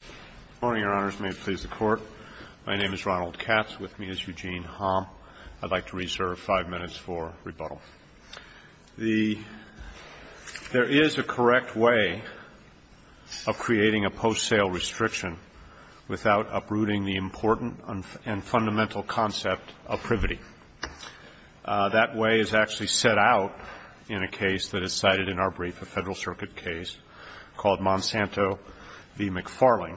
Good morning, Your Honors. May it please the Court. My name is Ronald Katz. With me is Eugene Hamm. I'd like to reserve five minutes for rebuttal. There is a correct way of creating a post-sale restriction without uprooting the important and fundamental concept of privity. That way is actually set out in a case that is cited in our brief, a Federal Circuit case called Monsanto v. McFarling,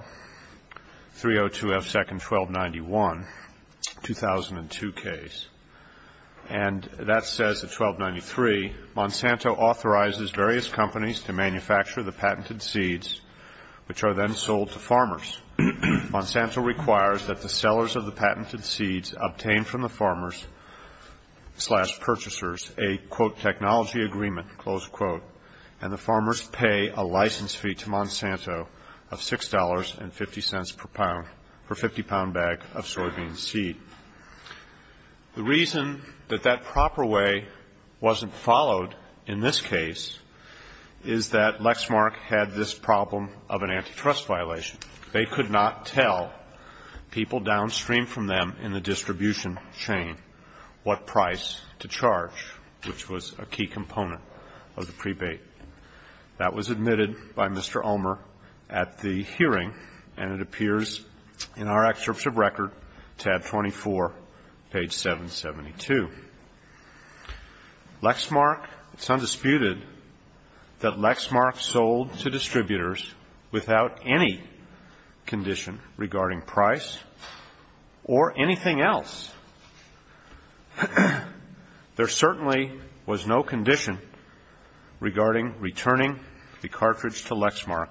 302 F. 2nd 1291, 2002 case. And that says at 1293, Monsanto authorizes various companies to manufacture the patented seeds, which are then sold to farmers. Monsanto requires that the sellers of the patented seeds obtain from the farmers slash purchasers a, quote, technology agreement, close quote, and the farmers pay a license fee to Monsanto of $6.50 per pound for a 50-pound bag of soybean seed. The reason that that proper way wasn't followed in this case is that Lexmark had this problem of an antitrust violation. They could not tell people downstream from them in the distribution chain what price to charge, which was a key component of the prebate. That was admitted by Mr. Omer at the hearing, and it appears in our excerpt of record, tab 24, page 772. Lexmark, it's undisputed that Lexmark sold to distributors without any condition regarding price or anything else. There certainly was no condition regarding returning the cartridge to Lexmark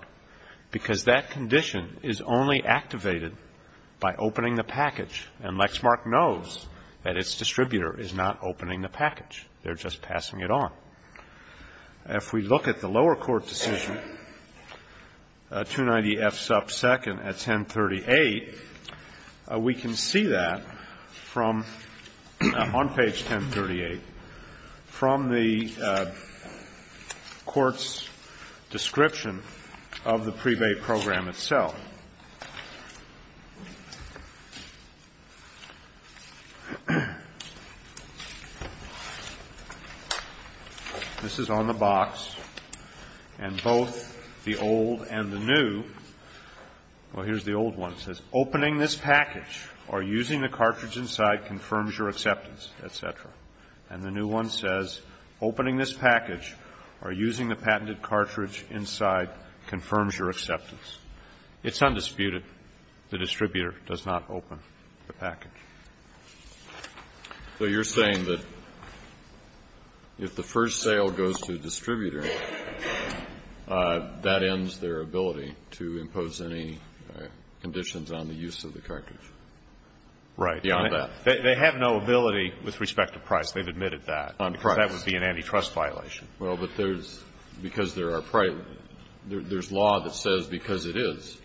because that condition is only activated by opening the package, and Lexmark knows that its distributor is not opening the package. They're just passing it on. If we look at the lower court decision, 290F sub 2nd at 1038, we can see that from on page 1038, from the court's description of the prebate program itself. This is on the box, and both the old and the new, well, here's the old one. The old one says, opening this package or using the cartridge inside confirms your acceptance, et cetera. And the new one says, opening this package or using the patented cartridge inside confirms your acceptance. It's undisputed. So you're saying that if the first sale goes to a distributor, that ends their ability to impose any conditions on the use of the cartridge? Right. Beyond that. They have no ability with respect to price. They've admitted that. On price. Because that would be an antitrust violation. Well, but there's law that says because it is.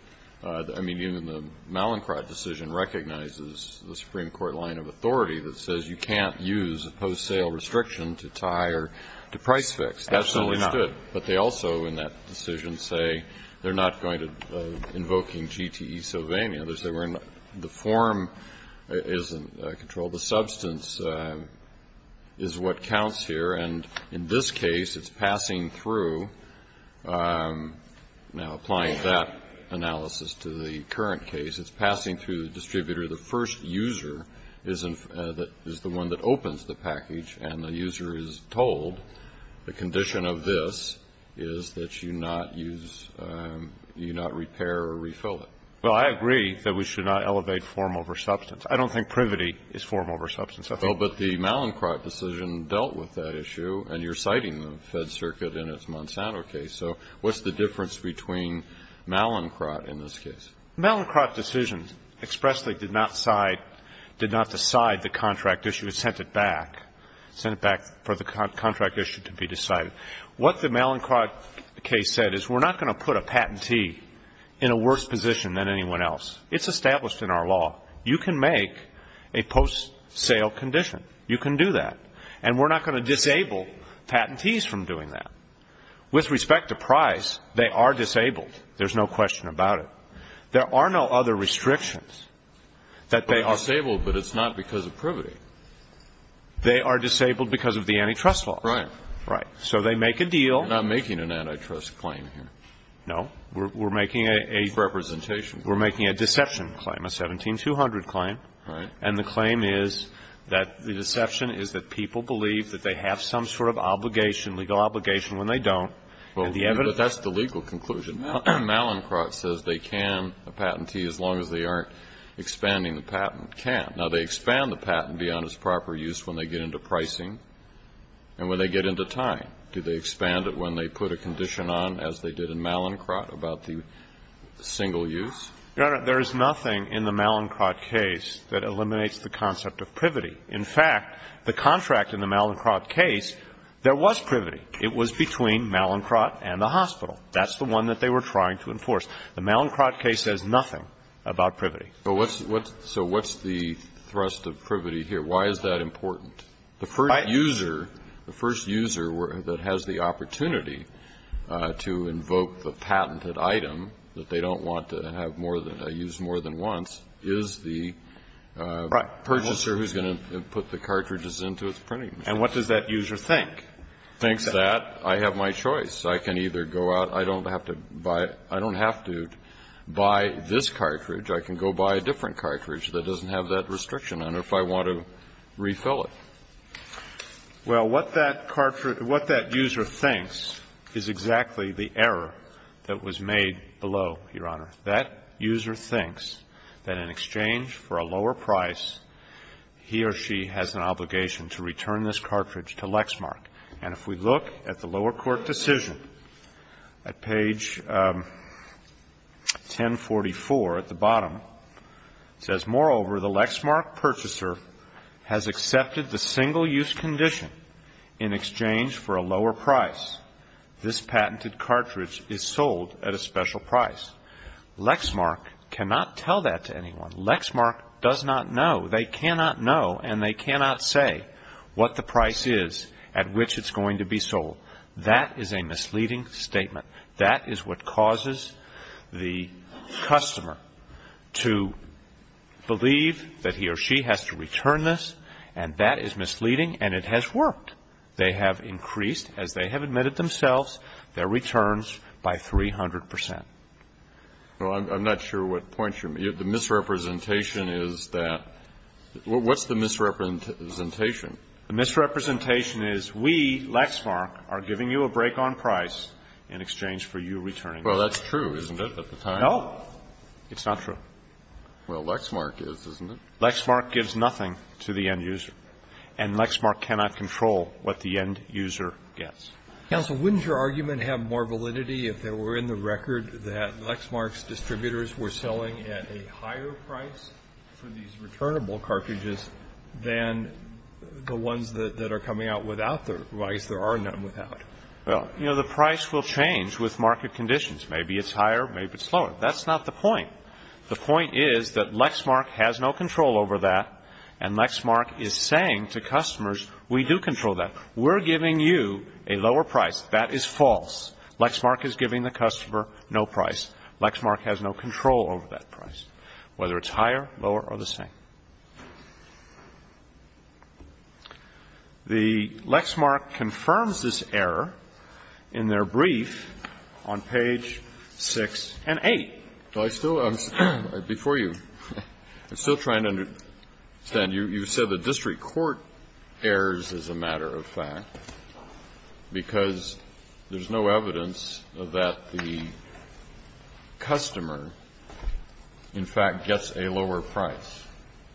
I mean, even the Mallinckrodt decision recognizes the Supreme Court line of authority that says you can't use a post-sale restriction to tie or to price fix. Absolutely not. That's understood. But they also in that decision say they're not going to invoking GTE Sylvania. They say we're not. The form isn't controlled. The substance is what counts here. And in this case, it's passing through. Now, applying that analysis to the current case, it's passing through the distributor. The first user is the one that opens the package. And the user is told the condition of this is that you not use, you not repair or refill it. Well, I agree that we should not elevate form over substance. I don't think privity is form over substance. Well, but the Mallinckrodt decision dealt with that issue, and you're citing the Fed Circuit in its Monsanto case. So what's the difference between Mallinckrodt in this case? The Mallinckrodt decision expressly did not side, did not decide the contract issue. It sent it back, sent it back for the contract issue to be decided. What the Mallinckrodt case said is we're not going to put a patentee in a worse position than anyone else. It's established in our law. You can make a post-sale condition. You can do that. And we're not going to disable patentees from doing that. With respect to price, they are disabled. There's no question about it. There are no other restrictions that they are. They are disabled, but it's not because of privity. They are disabled because of the antitrust law. Right. Right. So they make a deal. We're not making an antitrust claim here. No. We're making a deception claim, a 17-200. Right. And the claim is that the deception is that people believe that they have some sort of obligation, legal obligation, when they don't. Well, that's the legal conclusion. Mallinckrodt says they can patentee as long as they aren't expanding the patent. Can't. Now, they expand the patent beyond its proper use when they get into pricing and when they get into time. Do they expand it when they put a condition on, as they did in Mallinckrodt, about the single use? Your Honor, there is nothing in the Mallinckrodt case that eliminates the concept of privity. In fact, the contract in the Mallinckrodt case, there was privity. It was between Mallinckrodt and the hospital. That's the one that they were trying to enforce. The Mallinckrodt case says nothing about privity. So what's the thrust of privity here? Why is that important? The first user, the first user that has the opportunity to invoke the patented item that they don't want to use more than once is the purchaser who's going to put the cartridges into its printing machine. And what does that user think? Thinks that I have my choice. I can either go out. I don't have to buy this cartridge. I can go buy a different cartridge that doesn't have that restriction on it if I want to refill it. Well, what that user thinks is exactly the error that was made below, Your Honor. That user thinks that in exchange for a lower price, he or she has an obligation to return this cartridge to Lexmark. And if we look at the lower court decision at page 1044 at the bottom, it says, Moreover, the Lexmark purchaser has accepted the single use condition in exchange for a lower price. This patented cartridge is sold at a special price. Lexmark cannot tell that to anyone. Lexmark does not know. They cannot know and they cannot say what the price is at which it's going to be sold. That is a misleading statement. That is what causes the customer to believe that he or she has to return this. And that is misleading and it has worked. They have increased, as they have admitted themselves, their returns by 300 percent. Well, I'm not sure what point you're making. The misrepresentation is that what's the misrepresentation? The misrepresentation is we, Lexmark, are giving you a break on price in exchange for you returning it. Well, that's true, isn't it, at the time? No, it's not true. Well, Lexmark is, isn't it? Lexmark gives nothing to the end user. And Lexmark cannot control what the end user gets. Counsel, wouldn't your argument have more validity if there were in the record that Lexmark's distributors were selling at a higher price for these returnable cartridges than the ones that are coming out without their price? There are none without. Well, you know, the price will change with market conditions. Maybe it's higher. Maybe it's lower. That's not the point. The point is that Lexmark has no control over that, and Lexmark is saying to customers, we do control that. We're giving you a lower price. That is false. Lexmark is giving the customer no price. Lexmark has no control over that price, whether it's higher, lower, or the same. The Lexmark confirms this error in their brief on page 6 and 8. Well, I still, before you, I'm still trying to understand. You said the district court errs, as a matter of fact, because there's no evidence that the customer, in fact, gets a lower price.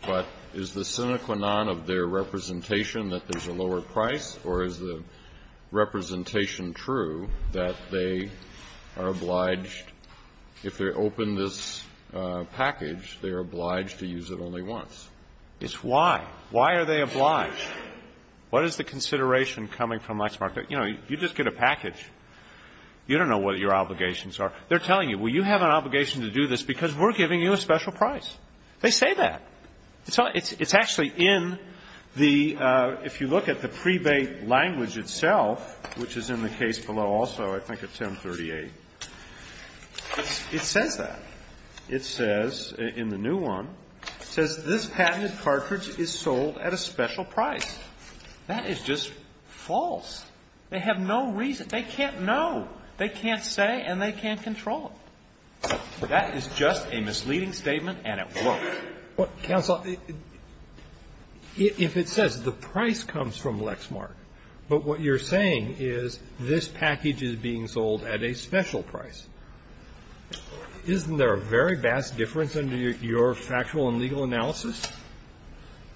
But is the sine qua non of their representation that there's a lower price? Or is the representation true that they are obliged, if they open this package, they're obliged to use it only once? It's why. Why are they obliged? What is the consideration coming from Lexmark? You know, you just get a package. You don't know what your obligations are. They're telling you, well, you have an obligation to do this because we're giving you a special price. They say that. It's actually in the, if you look at the prebate language itself, which is in the case below also, I think at 1038, it says that. It says, in the new one, it says, this patented cartridge is sold at a special price. That is just false. They have no reason. They can't know. They can't say, and they can't control it. That is just a misleading statement, and it won't. Kennedy. If it says the price comes from Lexmark, but what you're saying is this package is being sold at a special price, isn't there a very vast difference under your factual and legal analysis?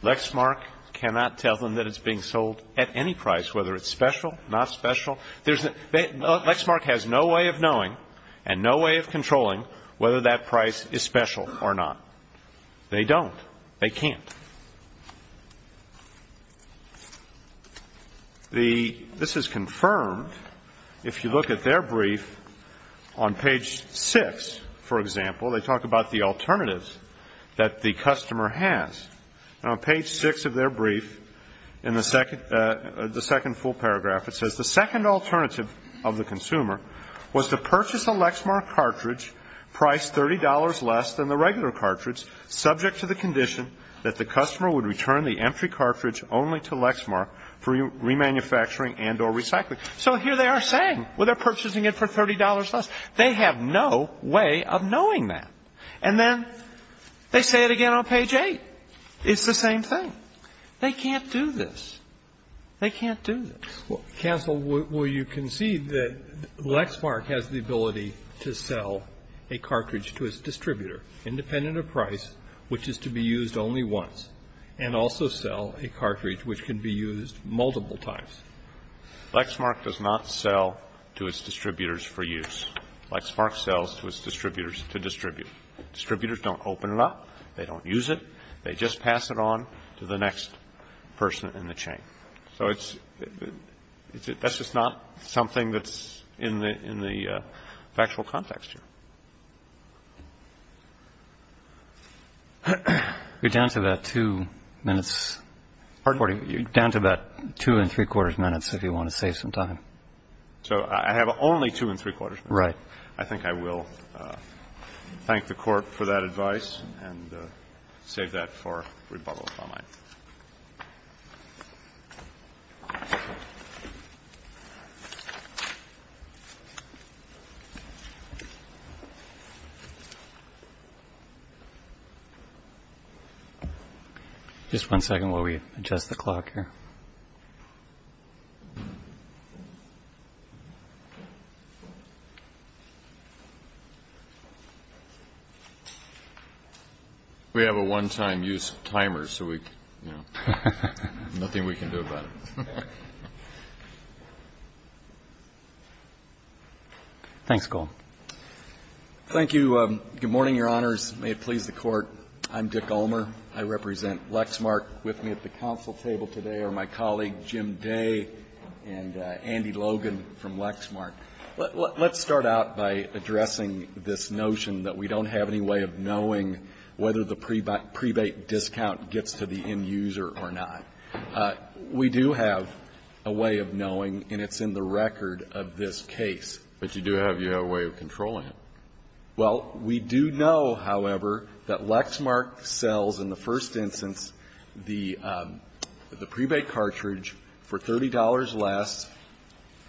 Lexmark cannot tell them that it's being sold at any price, whether it's special, not special. Lexmark has no way of knowing and no way of controlling whether that price is special or not. They don't. They can't. This is confirmed if you look at their brief. On page 6, for example, they talk about the alternatives that the customer has. On page 6 of their brief, in the second full paragraph, it says, the second alternative of the consumer was to purchase a Lexmark cartridge priced $30 less than the regular cartridge subject to the condition that the customer would return the empty cartridge only to Lexmark for remanufacturing and or recycling. So here they are saying, well, they're purchasing it for $30 less. They have no way of knowing that. And then they say it again on page 8. It's the same thing. They can't do this. They can't do this. Counsel, will you concede that Lexmark has the ability to sell a cartridge to its distributor independent of price, which is to be used only once, and also sell a cartridge which can be used multiple times? Lexmark does not sell to its distributors for use. Lexmark sells to its distributors to distribute. Distributors don't open it up. They don't use it. They just pass it on to the next person in the chain. So that's just not something that's in the factual context here. You're down to about two minutes. Pardon? You're down to about two and three-quarters minutes if you want to save some time. So I have only two and three-quarters minutes. Right. So I think I will thank the Court for that advice and save that for rebuttal if I might. Thank you. Just one second while we adjust the clock here. We have a one-time use timer, so we, you know, nothing we can do about it. Thanks, Cole. Thank you. Good morning, Your Honors. May it please the Court. I'm Dick Ulmer. I represent Lexmark. With me at the council table today are my colleague Jim Day and Andy Logan from Lexmark. Let's start out by addressing this notion that we don't have any way of knowing whether the prebate discount gets to the end user or not. We do have a way of knowing, and it's in the record of this case. But you do have your way of controlling it. Well, we do know, however, that Lexmark sells in the first instance the prebate cartridge for $30 less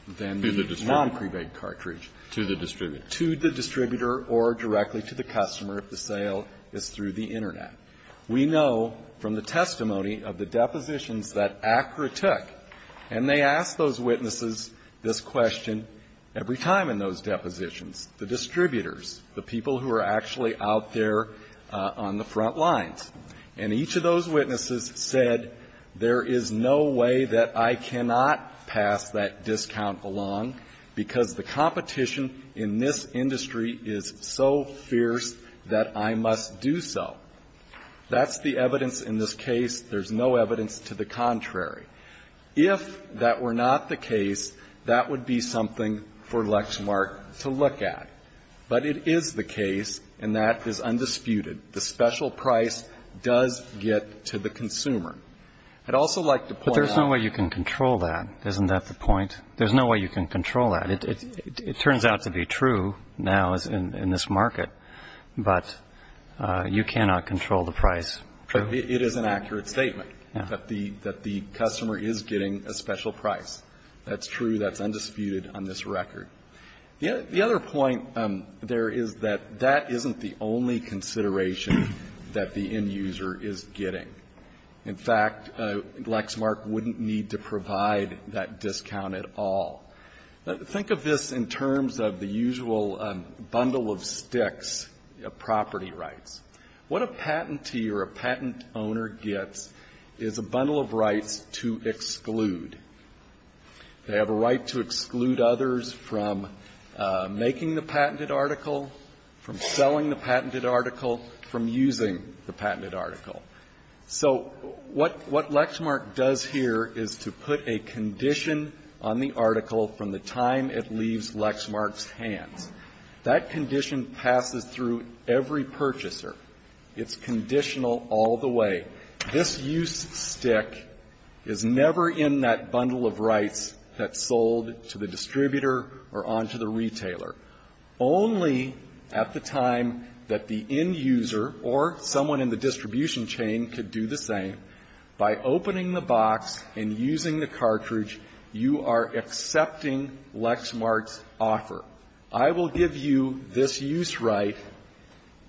than the non-prebate cartridge. To the distributor. To the distributor or directly to the customer if the sale is through the Internet. We know from the testimony of the depositions that ACRA took, and they ask those distributors, the people who are actually out there on the front lines, and each of those witnesses said there is no way that I cannot pass that discount along because the competition in this industry is so fierce that I must do so. That's the evidence in this case. There's no evidence to the contrary. If that were not the case, that would be something for Lexmark to look at. But it is the case, and that is undisputed, the special price does get to the consumer. I'd also like to point out. But there's no way you can control that. Isn't that the point? There's no way you can control that. It turns out to be true now in this market, but you cannot control the price. It is an accurate statement that the customer is getting a special price. That's true. That's undisputed on this record. The other point there is that that isn't the only consideration that the end user is getting. In fact, Lexmark wouldn't need to provide that discount at all. Think of this in terms of the usual bundle of sticks of property rights. What a patentee or a patent owner gets is a bundle of rights to exclude. They have a right to exclude others from making the patented article, from selling the patented article, from using the patented article. So what Lexmark does here is to put a condition on the article from the time it leaves Lexmark's hands. That condition passes through every purchaser. It's conditional all the way. This use stick is never in that bundle of rights that's sold to the distributor or on to the retailer. Only at the time that the end user or someone in the distribution chain could do the same, by opening the box and using the cartridge, you are accepting Lexmark's offer. I will give you this use right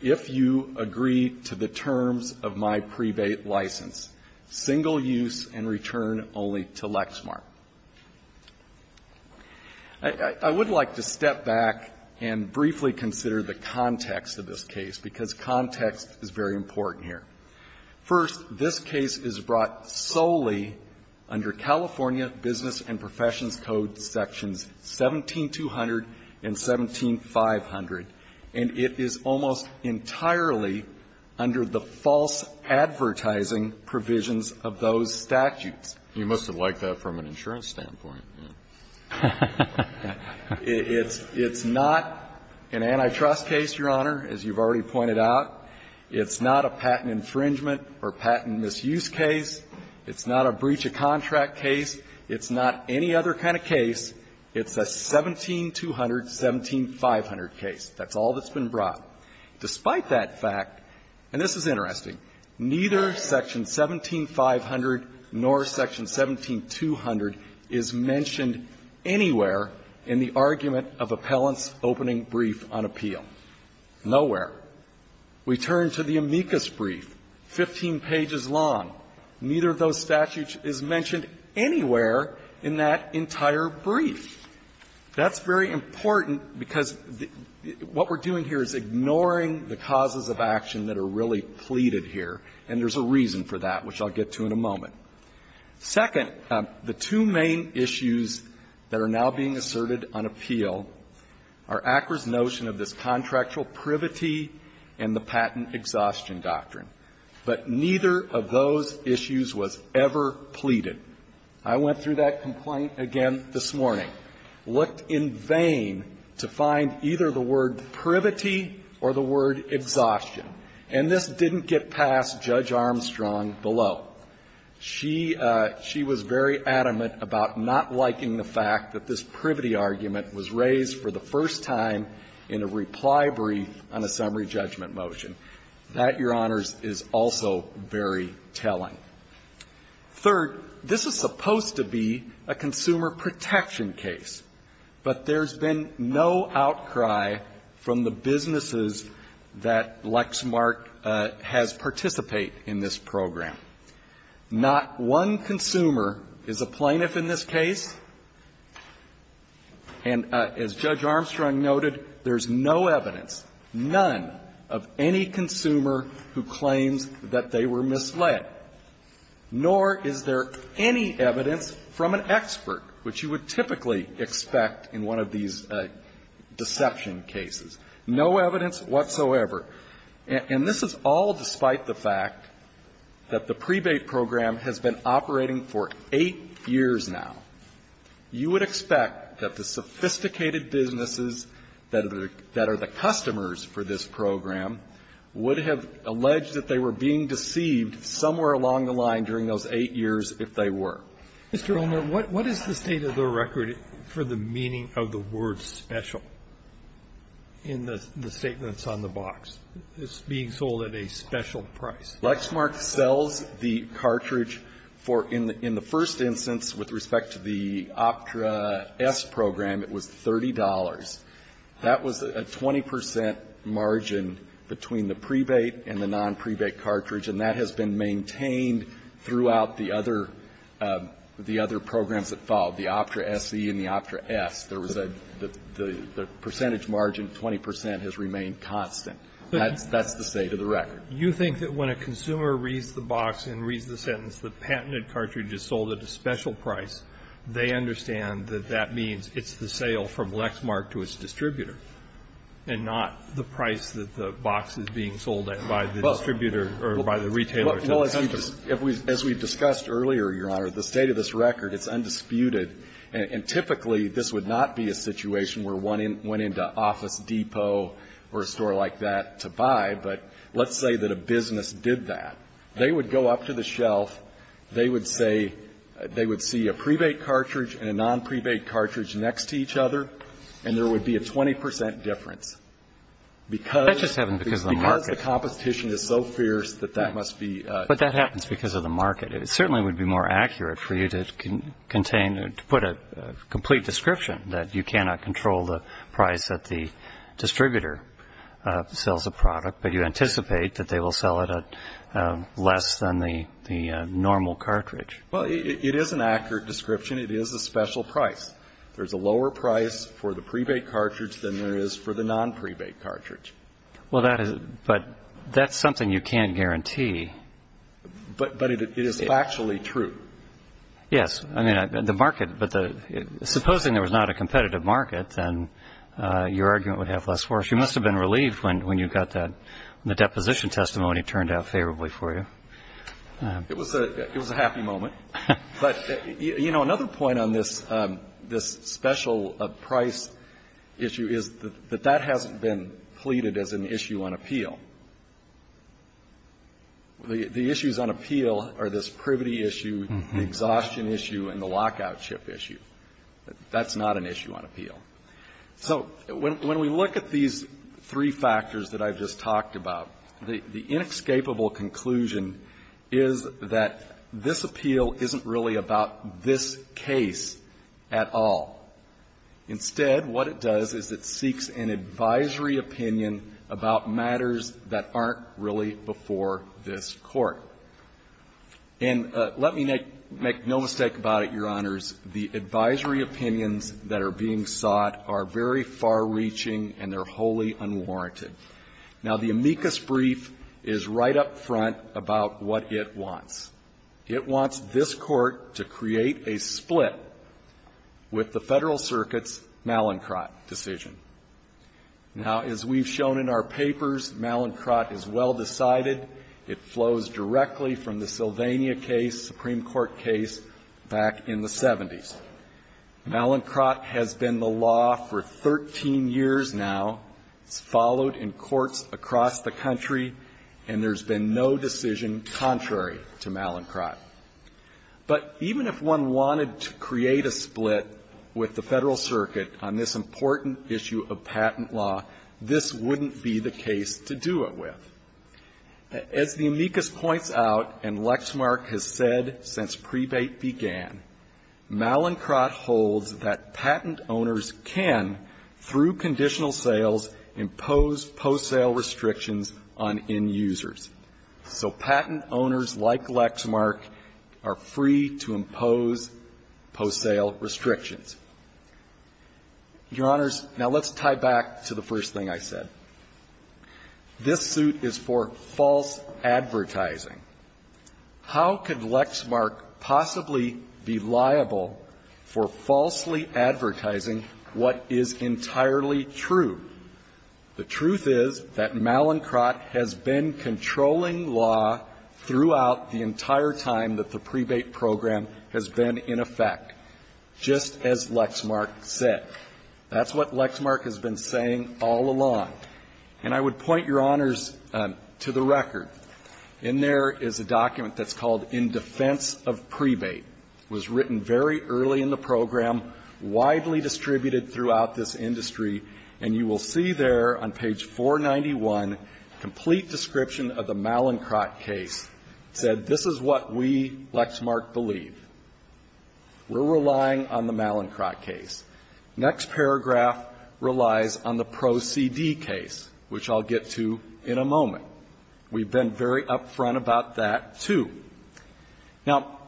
if you agree to the terms of my prebate license. Single use and return only to Lexmark. I would like to step back and briefly consider the context of this case, because context is very important here. First, this case is brought solely under California Business and Professions Code sections 17200 and 17500, and it is almost entirely under the false advertising provisions of those statutes. You must have liked that from an insurance standpoint. It's not an antitrust case, Your Honor, as you've already pointed out. It's not a patent infringement or patent misuse case. It's not a breach of contract case. It's not any other kind of case. It's a 17200, 17500 case. That's all that's been brought. Despite that fact, and this is interesting, neither section 17500 nor section 17200 is mentioned anywhere in the argument of appellant's opening brief on appeal. Nowhere. We turn to the amicus brief, 15 pages long. Neither of those statutes is mentioned anywhere in that entire brief. That's very important because what we're doing here is ignoring the causes of action that are really pleaded here, and there's a reason for that, which I'll get to in a moment. Second, the two main issues that are now being asserted on appeal are ACRA's notion of this contractual privity and the patent exhaustion doctrine. But neither of those issues was ever pleaded. I went through that complaint again this morning, looked in vain to find either the word privity or the word exhaustion. And this didn't get past Judge Armstrong below. She was very adamant about not liking the fact that this privity argument was raised for the first time in a reply brief on a summary judgment motion. That, Your Honors, is also very telling. Third, this is supposed to be a consumer protection case, but there's been no outcry from the businesses that Lexmark has participated in this program. Not one consumer is a plaintiff in this case. And as Judge Armstrong noted, there's no evidence, none, of any consumer who claims that they were misled, nor is there any evidence from an expert, which you would typically expect in one of these deception cases. No evidence whatsoever. And this is all despite the fact that the prebate program has been operating for eight years now. You would expect that the sophisticated businesses that are the customers for this program would have alleged that they were being deceived somewhere along the line during those eight years if they were. Mr. Olner, what is the state of the record for the meaning of the word special in the statement that's on the box? It's being sold at a special price. Lexmark sells the cartridge for, in the first instance, with respect to the Optra S program, it was $30. That was a 20 percent margin between the prebate and the nonprebate cartridge, and that has been maintained throughout the other programs that followed, the Optra SE and the Optra S. The percentage margin, 20 percent, has remained constant. That's the state of the record. But you think that when a consumer reads the box and reads the sentence, the patented cartridge is sold at a special price, they understand that that means it's the sale from Lexmark to its distributor, and not the price that the box is being sold at by the distributor or by the retailer to the customer. Well, as we've discussed earlier, Your Honor, the state of this record, it's undisputed. And typically, this would not be a situation where one went into Office Depot or a store like that to buy, but let's say that a business did that. They would go up to the shelf. They would say they would see a prebate cartridge and a nonprebate cartridge next to each other, and there would be a 20 percent difference because the competition is so fierce that that must be. But that happens because of the market. It certainly would be more accurate for you to contain, to put a complete description that you cannot control the price that the distributor sells a product, but you anticipate that they will sell it at less than the normal cartridge. Well, it is an accurate description. It is a special price. There's a lower price for the prebate cartridge than there is for the nonprebate cartridge. Well, that is – but that's something you can't guarantee. But it is factually true. Yes. I mean, the market – but supposing there was not a competitive market, then your argument would have less force. You must have been relieved when you got that – when the deposition testimony turned out favorably for you. It was a happy moment. But, you know, another point on this special price issue is that that hasn't been pleaded as an issue on appeal. The issues on appeal are this prebate issue, the exhaustion issue, and the lockout chip issue. That's not an issue on appeal. So when we look at these three factors that I've just talked about, the inescapable conclusion is that this appeal isn't really about this case at all. Instead, what it does is it seeks an advisory opinion about matters that are relevant to this case that aren't really before this Court. And let me make no mistake about it, Your Honors. The advisory opinions that are being sought are very far-reaching, and they're wholly unwarranted. Now, the amicus brief is right up front about what it wants. It wants this Court to create a split with the Federal Circuit's Mallincott decision. Now, as we've shown in our papers, Mallincott is well decided. It flows directly from the Sylvania case, Supreme Court case, back in the 70s. Mallincott has been the law for 13 years now. It's followed in courts across the country, and there's been no decision contrary to Mallincott. But even if one wanted to create a split with the Federal Circuit on this important issue of patent law, this wouldn't be the case to do it with. As the amicus points out, and Lexmark has said since prebate began, Mallincott holds that patent owners can, through conditional sales, impose post-sale restrictions on end users. So patent owners like Lexmark are free to impose post-sale restrictions. Your Honors, now let's tie back to the first thing I said. This suit is for false advertising. How could Lexmark possibly be liable for falsely advertising what is entirely true? The truth is that Mallincott has been controlling law throughout the entire time that the prebate program has been in effect, just as Lexmark said. That's what Lexmark has been saying all along. And I would point Your Honors to the record. In there is a document that's called In Defense of Prebate. It was written very early in the program, widely distributed throughout this industry. And you will see there on page 491 complete description of the Mallincott case. It said, this is what we, Lexmark, believe. We're relying on the Mallincott case. Next paragraph relies on the Pro CD case, which I'll get to in a moment. We've been very upfront about that, too. Now,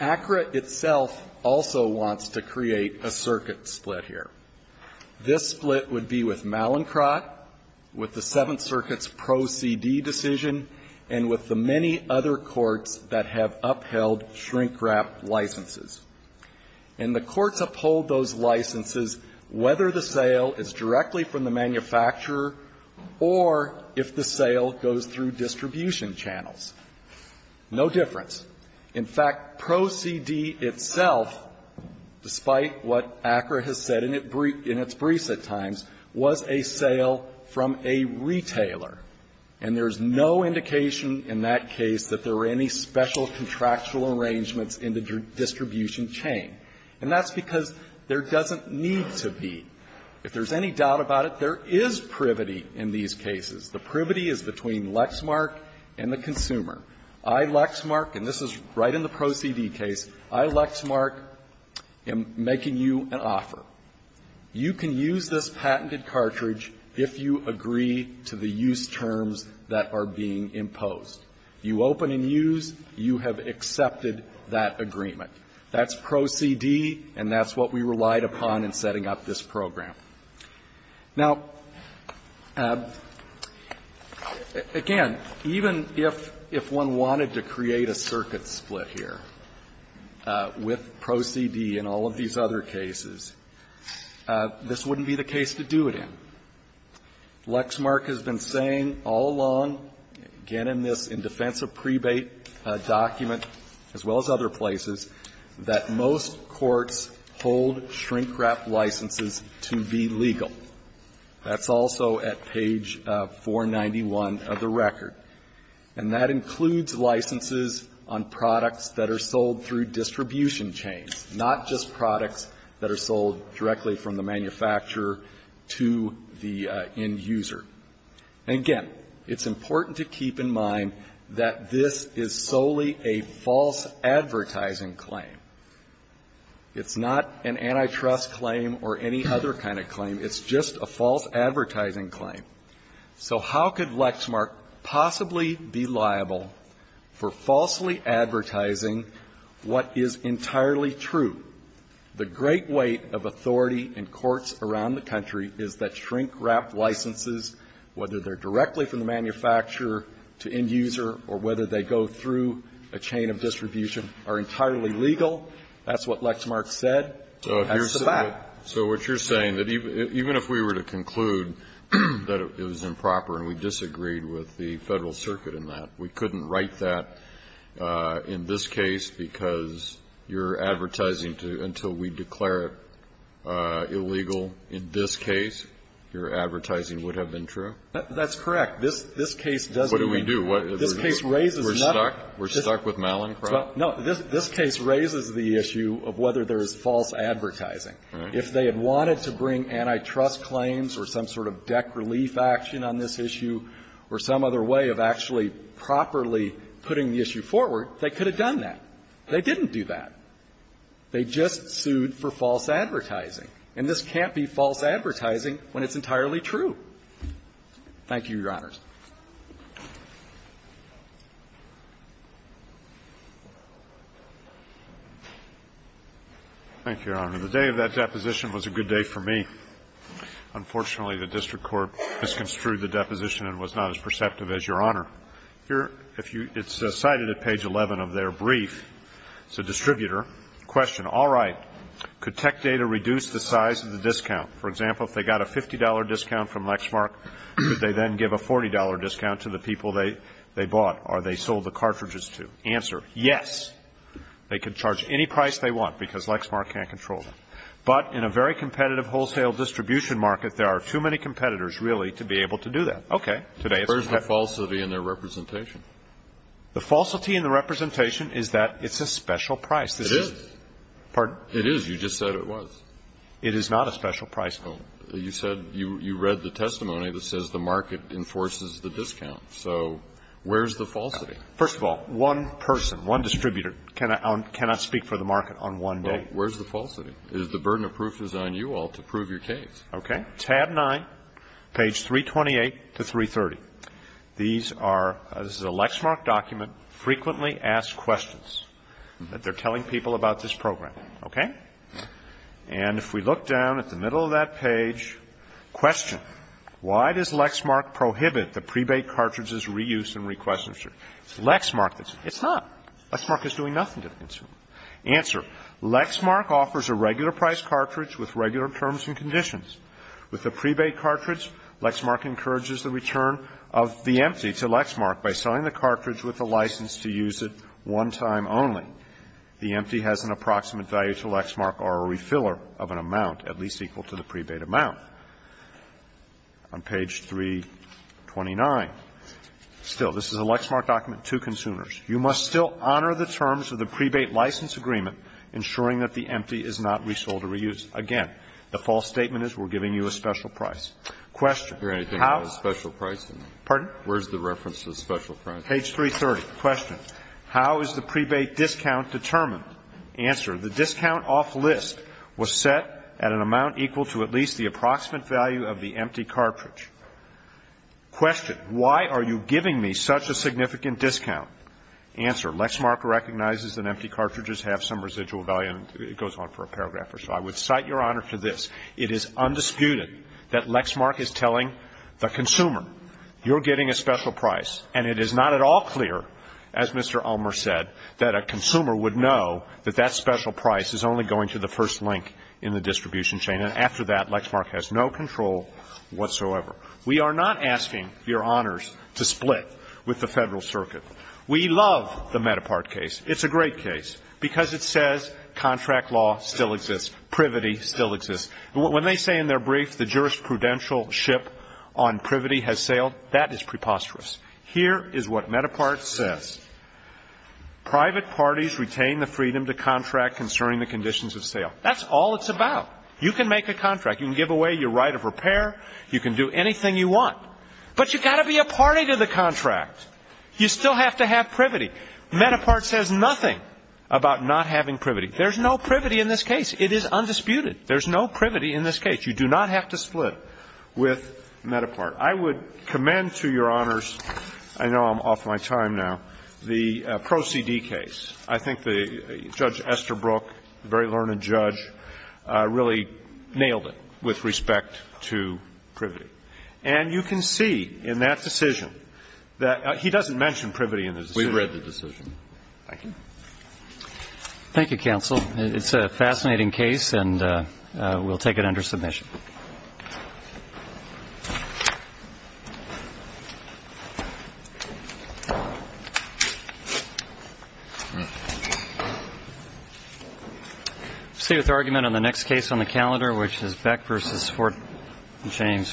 ACRA itself also wants to create a circuit split here. This split would be with Mallincott, with the Seventh Circuit's Pro CD decision, and with the many other courts that have upheld shrink-wrap licenses. And the courts uphold those licenses whether the sale is directly from the manufacturer or if the sale goes through distribution channels. No difference. In fact, Pro CD itself, despite what ACRA has said in its briefs at times, was a sale from a retailer. And there's no indication in that case that there were any special contractual arrangements in the distribution chain. And that's because there doesn't need to be. If there's any doubt about it, there is privity in these cases. The privity is between Lexmark and the consumer. I, Lexmark, and this is right in the Pro CD case, I, Lexmark, am making you an offer. You can use this patented cartridge if you agree to the use terms that are being imposed. You open and use. You have accepted that agreement. That's Pro CD, and that's what we relied upon in setting up this program. Now, again, even if one wanted to create a circuit split here with Pro CD and all of these other cases, this wouldn't be the case to do it in. Lexmark has been saying all along, again, in this, in defense of prebate document as well as other places, that most courts hold shrink-wrap licenses to be legal. That's also at page 491 of the record. And that includes licenses on products that are sold through distribution chains, not just products that are sold directly from the manufacturer to the end user. And, again, it's important to keep in mind that this is solely a false advertising claim. It's not an antitrust claim or any other kind of claim. It's just a false advertising claim. So how could Lexmark possibly be liable for falsely advertising what is entirely true? The great weight of authority in courts around the country is that shrink-wrap licenses, whether they're directly from the manufacturer to end user or whether they go through a chain of distribution, are entirely legal. That's what Lexmark said. That's the fact. So what you're saying, that even if we were to conclude that it was improper and we disagreed with the Federal Circuit in that, we couldn't write that in this case because you're advertising until we declare it illegal in this case, your advertising would have been true? That's correct. This case doesn't mean that. What do we do? This case raises another. We're stuck? We're stuck with Malincroft? No. This case raises the issue of whether there's false advertising. If they had wanted to bring antitrust claims or some sort of deck relief action on this issue or some other way of actually properly putting the issue forward, they could have done that. They didn't do that. They just sued for false advertising. And this can't be false advertising when it's entirely true. Thank you, Your Honors. Thank you, Your Honor. The day of that deposition was a good day for me. Unfortunately, the district court misconstrued the deposition and was not as perceptive as Your Honor. Here, it's cited at page 11 of their brief. It's a distributor. Question, all right, could tech data reduce the size of the discount? For example, if they got a $50 discount from Lexmark, would they then give a $40 discount to the people they bought or they sold the cartridges to? Answer, yes. They could charge any price they want because Lexmark can't control them. But in a very competitive wholesale distribution market, there are too many competitors, really, to be able to do that. Okay. Where's the falsity in their representation? The falsity in the representation is that it's a special price. It is. Pardon? It is. You just said it was. It is not a special price. You said you read the testimony that says the market enforces the discount. So where's the falsity? First of all, one person, one distributor, cannot speak for the market on one day. Where's the falsity? It is the burden of proof is on you all to prove your case. Okay. Tab 9, page 328 to 330, these are the Lexmark document, frequently asked questions that they're telling people about this program. Okay? And if we look down at the middle of that page, question, why does Lexmark prohibit the pre-baked cartridges' reuse and re-questioning? It's Lexmark that's doing it. It's not. Lexmark is doing nothing to the consumer. Answer, Lexmark offers a regular price cartridge with regular terms and conditions. With the pre-baked cartridge, Lexmark encourages the return of the empty to Lexmark by selling the cartridge with the license to use it one time only. The empty has an approximate value to Lexmark or a refiller of an amount at least equal to the pre-baked amount. On page 329, still, this is a Lexmark document to consumers. You must still honor the terms of the pre-baked license agreement, ensuring that the empty is not resold or reused. Again, the false statement is we're giving you a special price. Question. How do you hear anything about a special price? Pardon? Where's the reference to a special price? Page 330. Question, how is the pre-baked discount determined? Answer, the discount off-list was set at an amount equal to at least the approximate value of the empty cartridge. Question, why are you giving me such a significant discount? Answer, Lexmark recognizes that empty cartridges have some residual value. And it goes on for a paragraph or so. I would cite Your Honor to this. It is undisputed that Lexmark is telling the consumer, you're getting a special price. And it is not at all clear, as Mr. Ulmer said, that a consumer would know that that special price is only going to the first link in the distribution chain. And after that, Lexmark has no control whatsoever. We are not asking Your Honors to split with the Federal Circuit. We love the Medapart case. It's a great case, because it says contract law still exists. Privity still exists. When they say in their brief, the jurisprudential ship on privity has sailed, that is preposterous. Here is what Medapart says. Private parties retain the freedom to contract concerning the conditions of sale. That's all it's about. You can make a contract. You can give away your right of repair. You can do anything you want. But you've got to be a party to the contract. You still have to have privity. Medapart says nothing about not having privity. There's no privity in this case. It is undisputed. There's no privity in this case. You do not have to split with Medapart. I would commend to Your Honors, I know I'm off my time now, the Pro CD case. I think Judge Esther Brooke, a very learned judge, really nailed it with respect to privity. And you can see in that decision that he doesn't mention privity in the decision. We've read the decision. Thank you. Thank you, counsel. It's a fascinating case, and we'll take it under submission. We'll stay with argument on the next case on the calendar, which is Beck versus Fort James Court.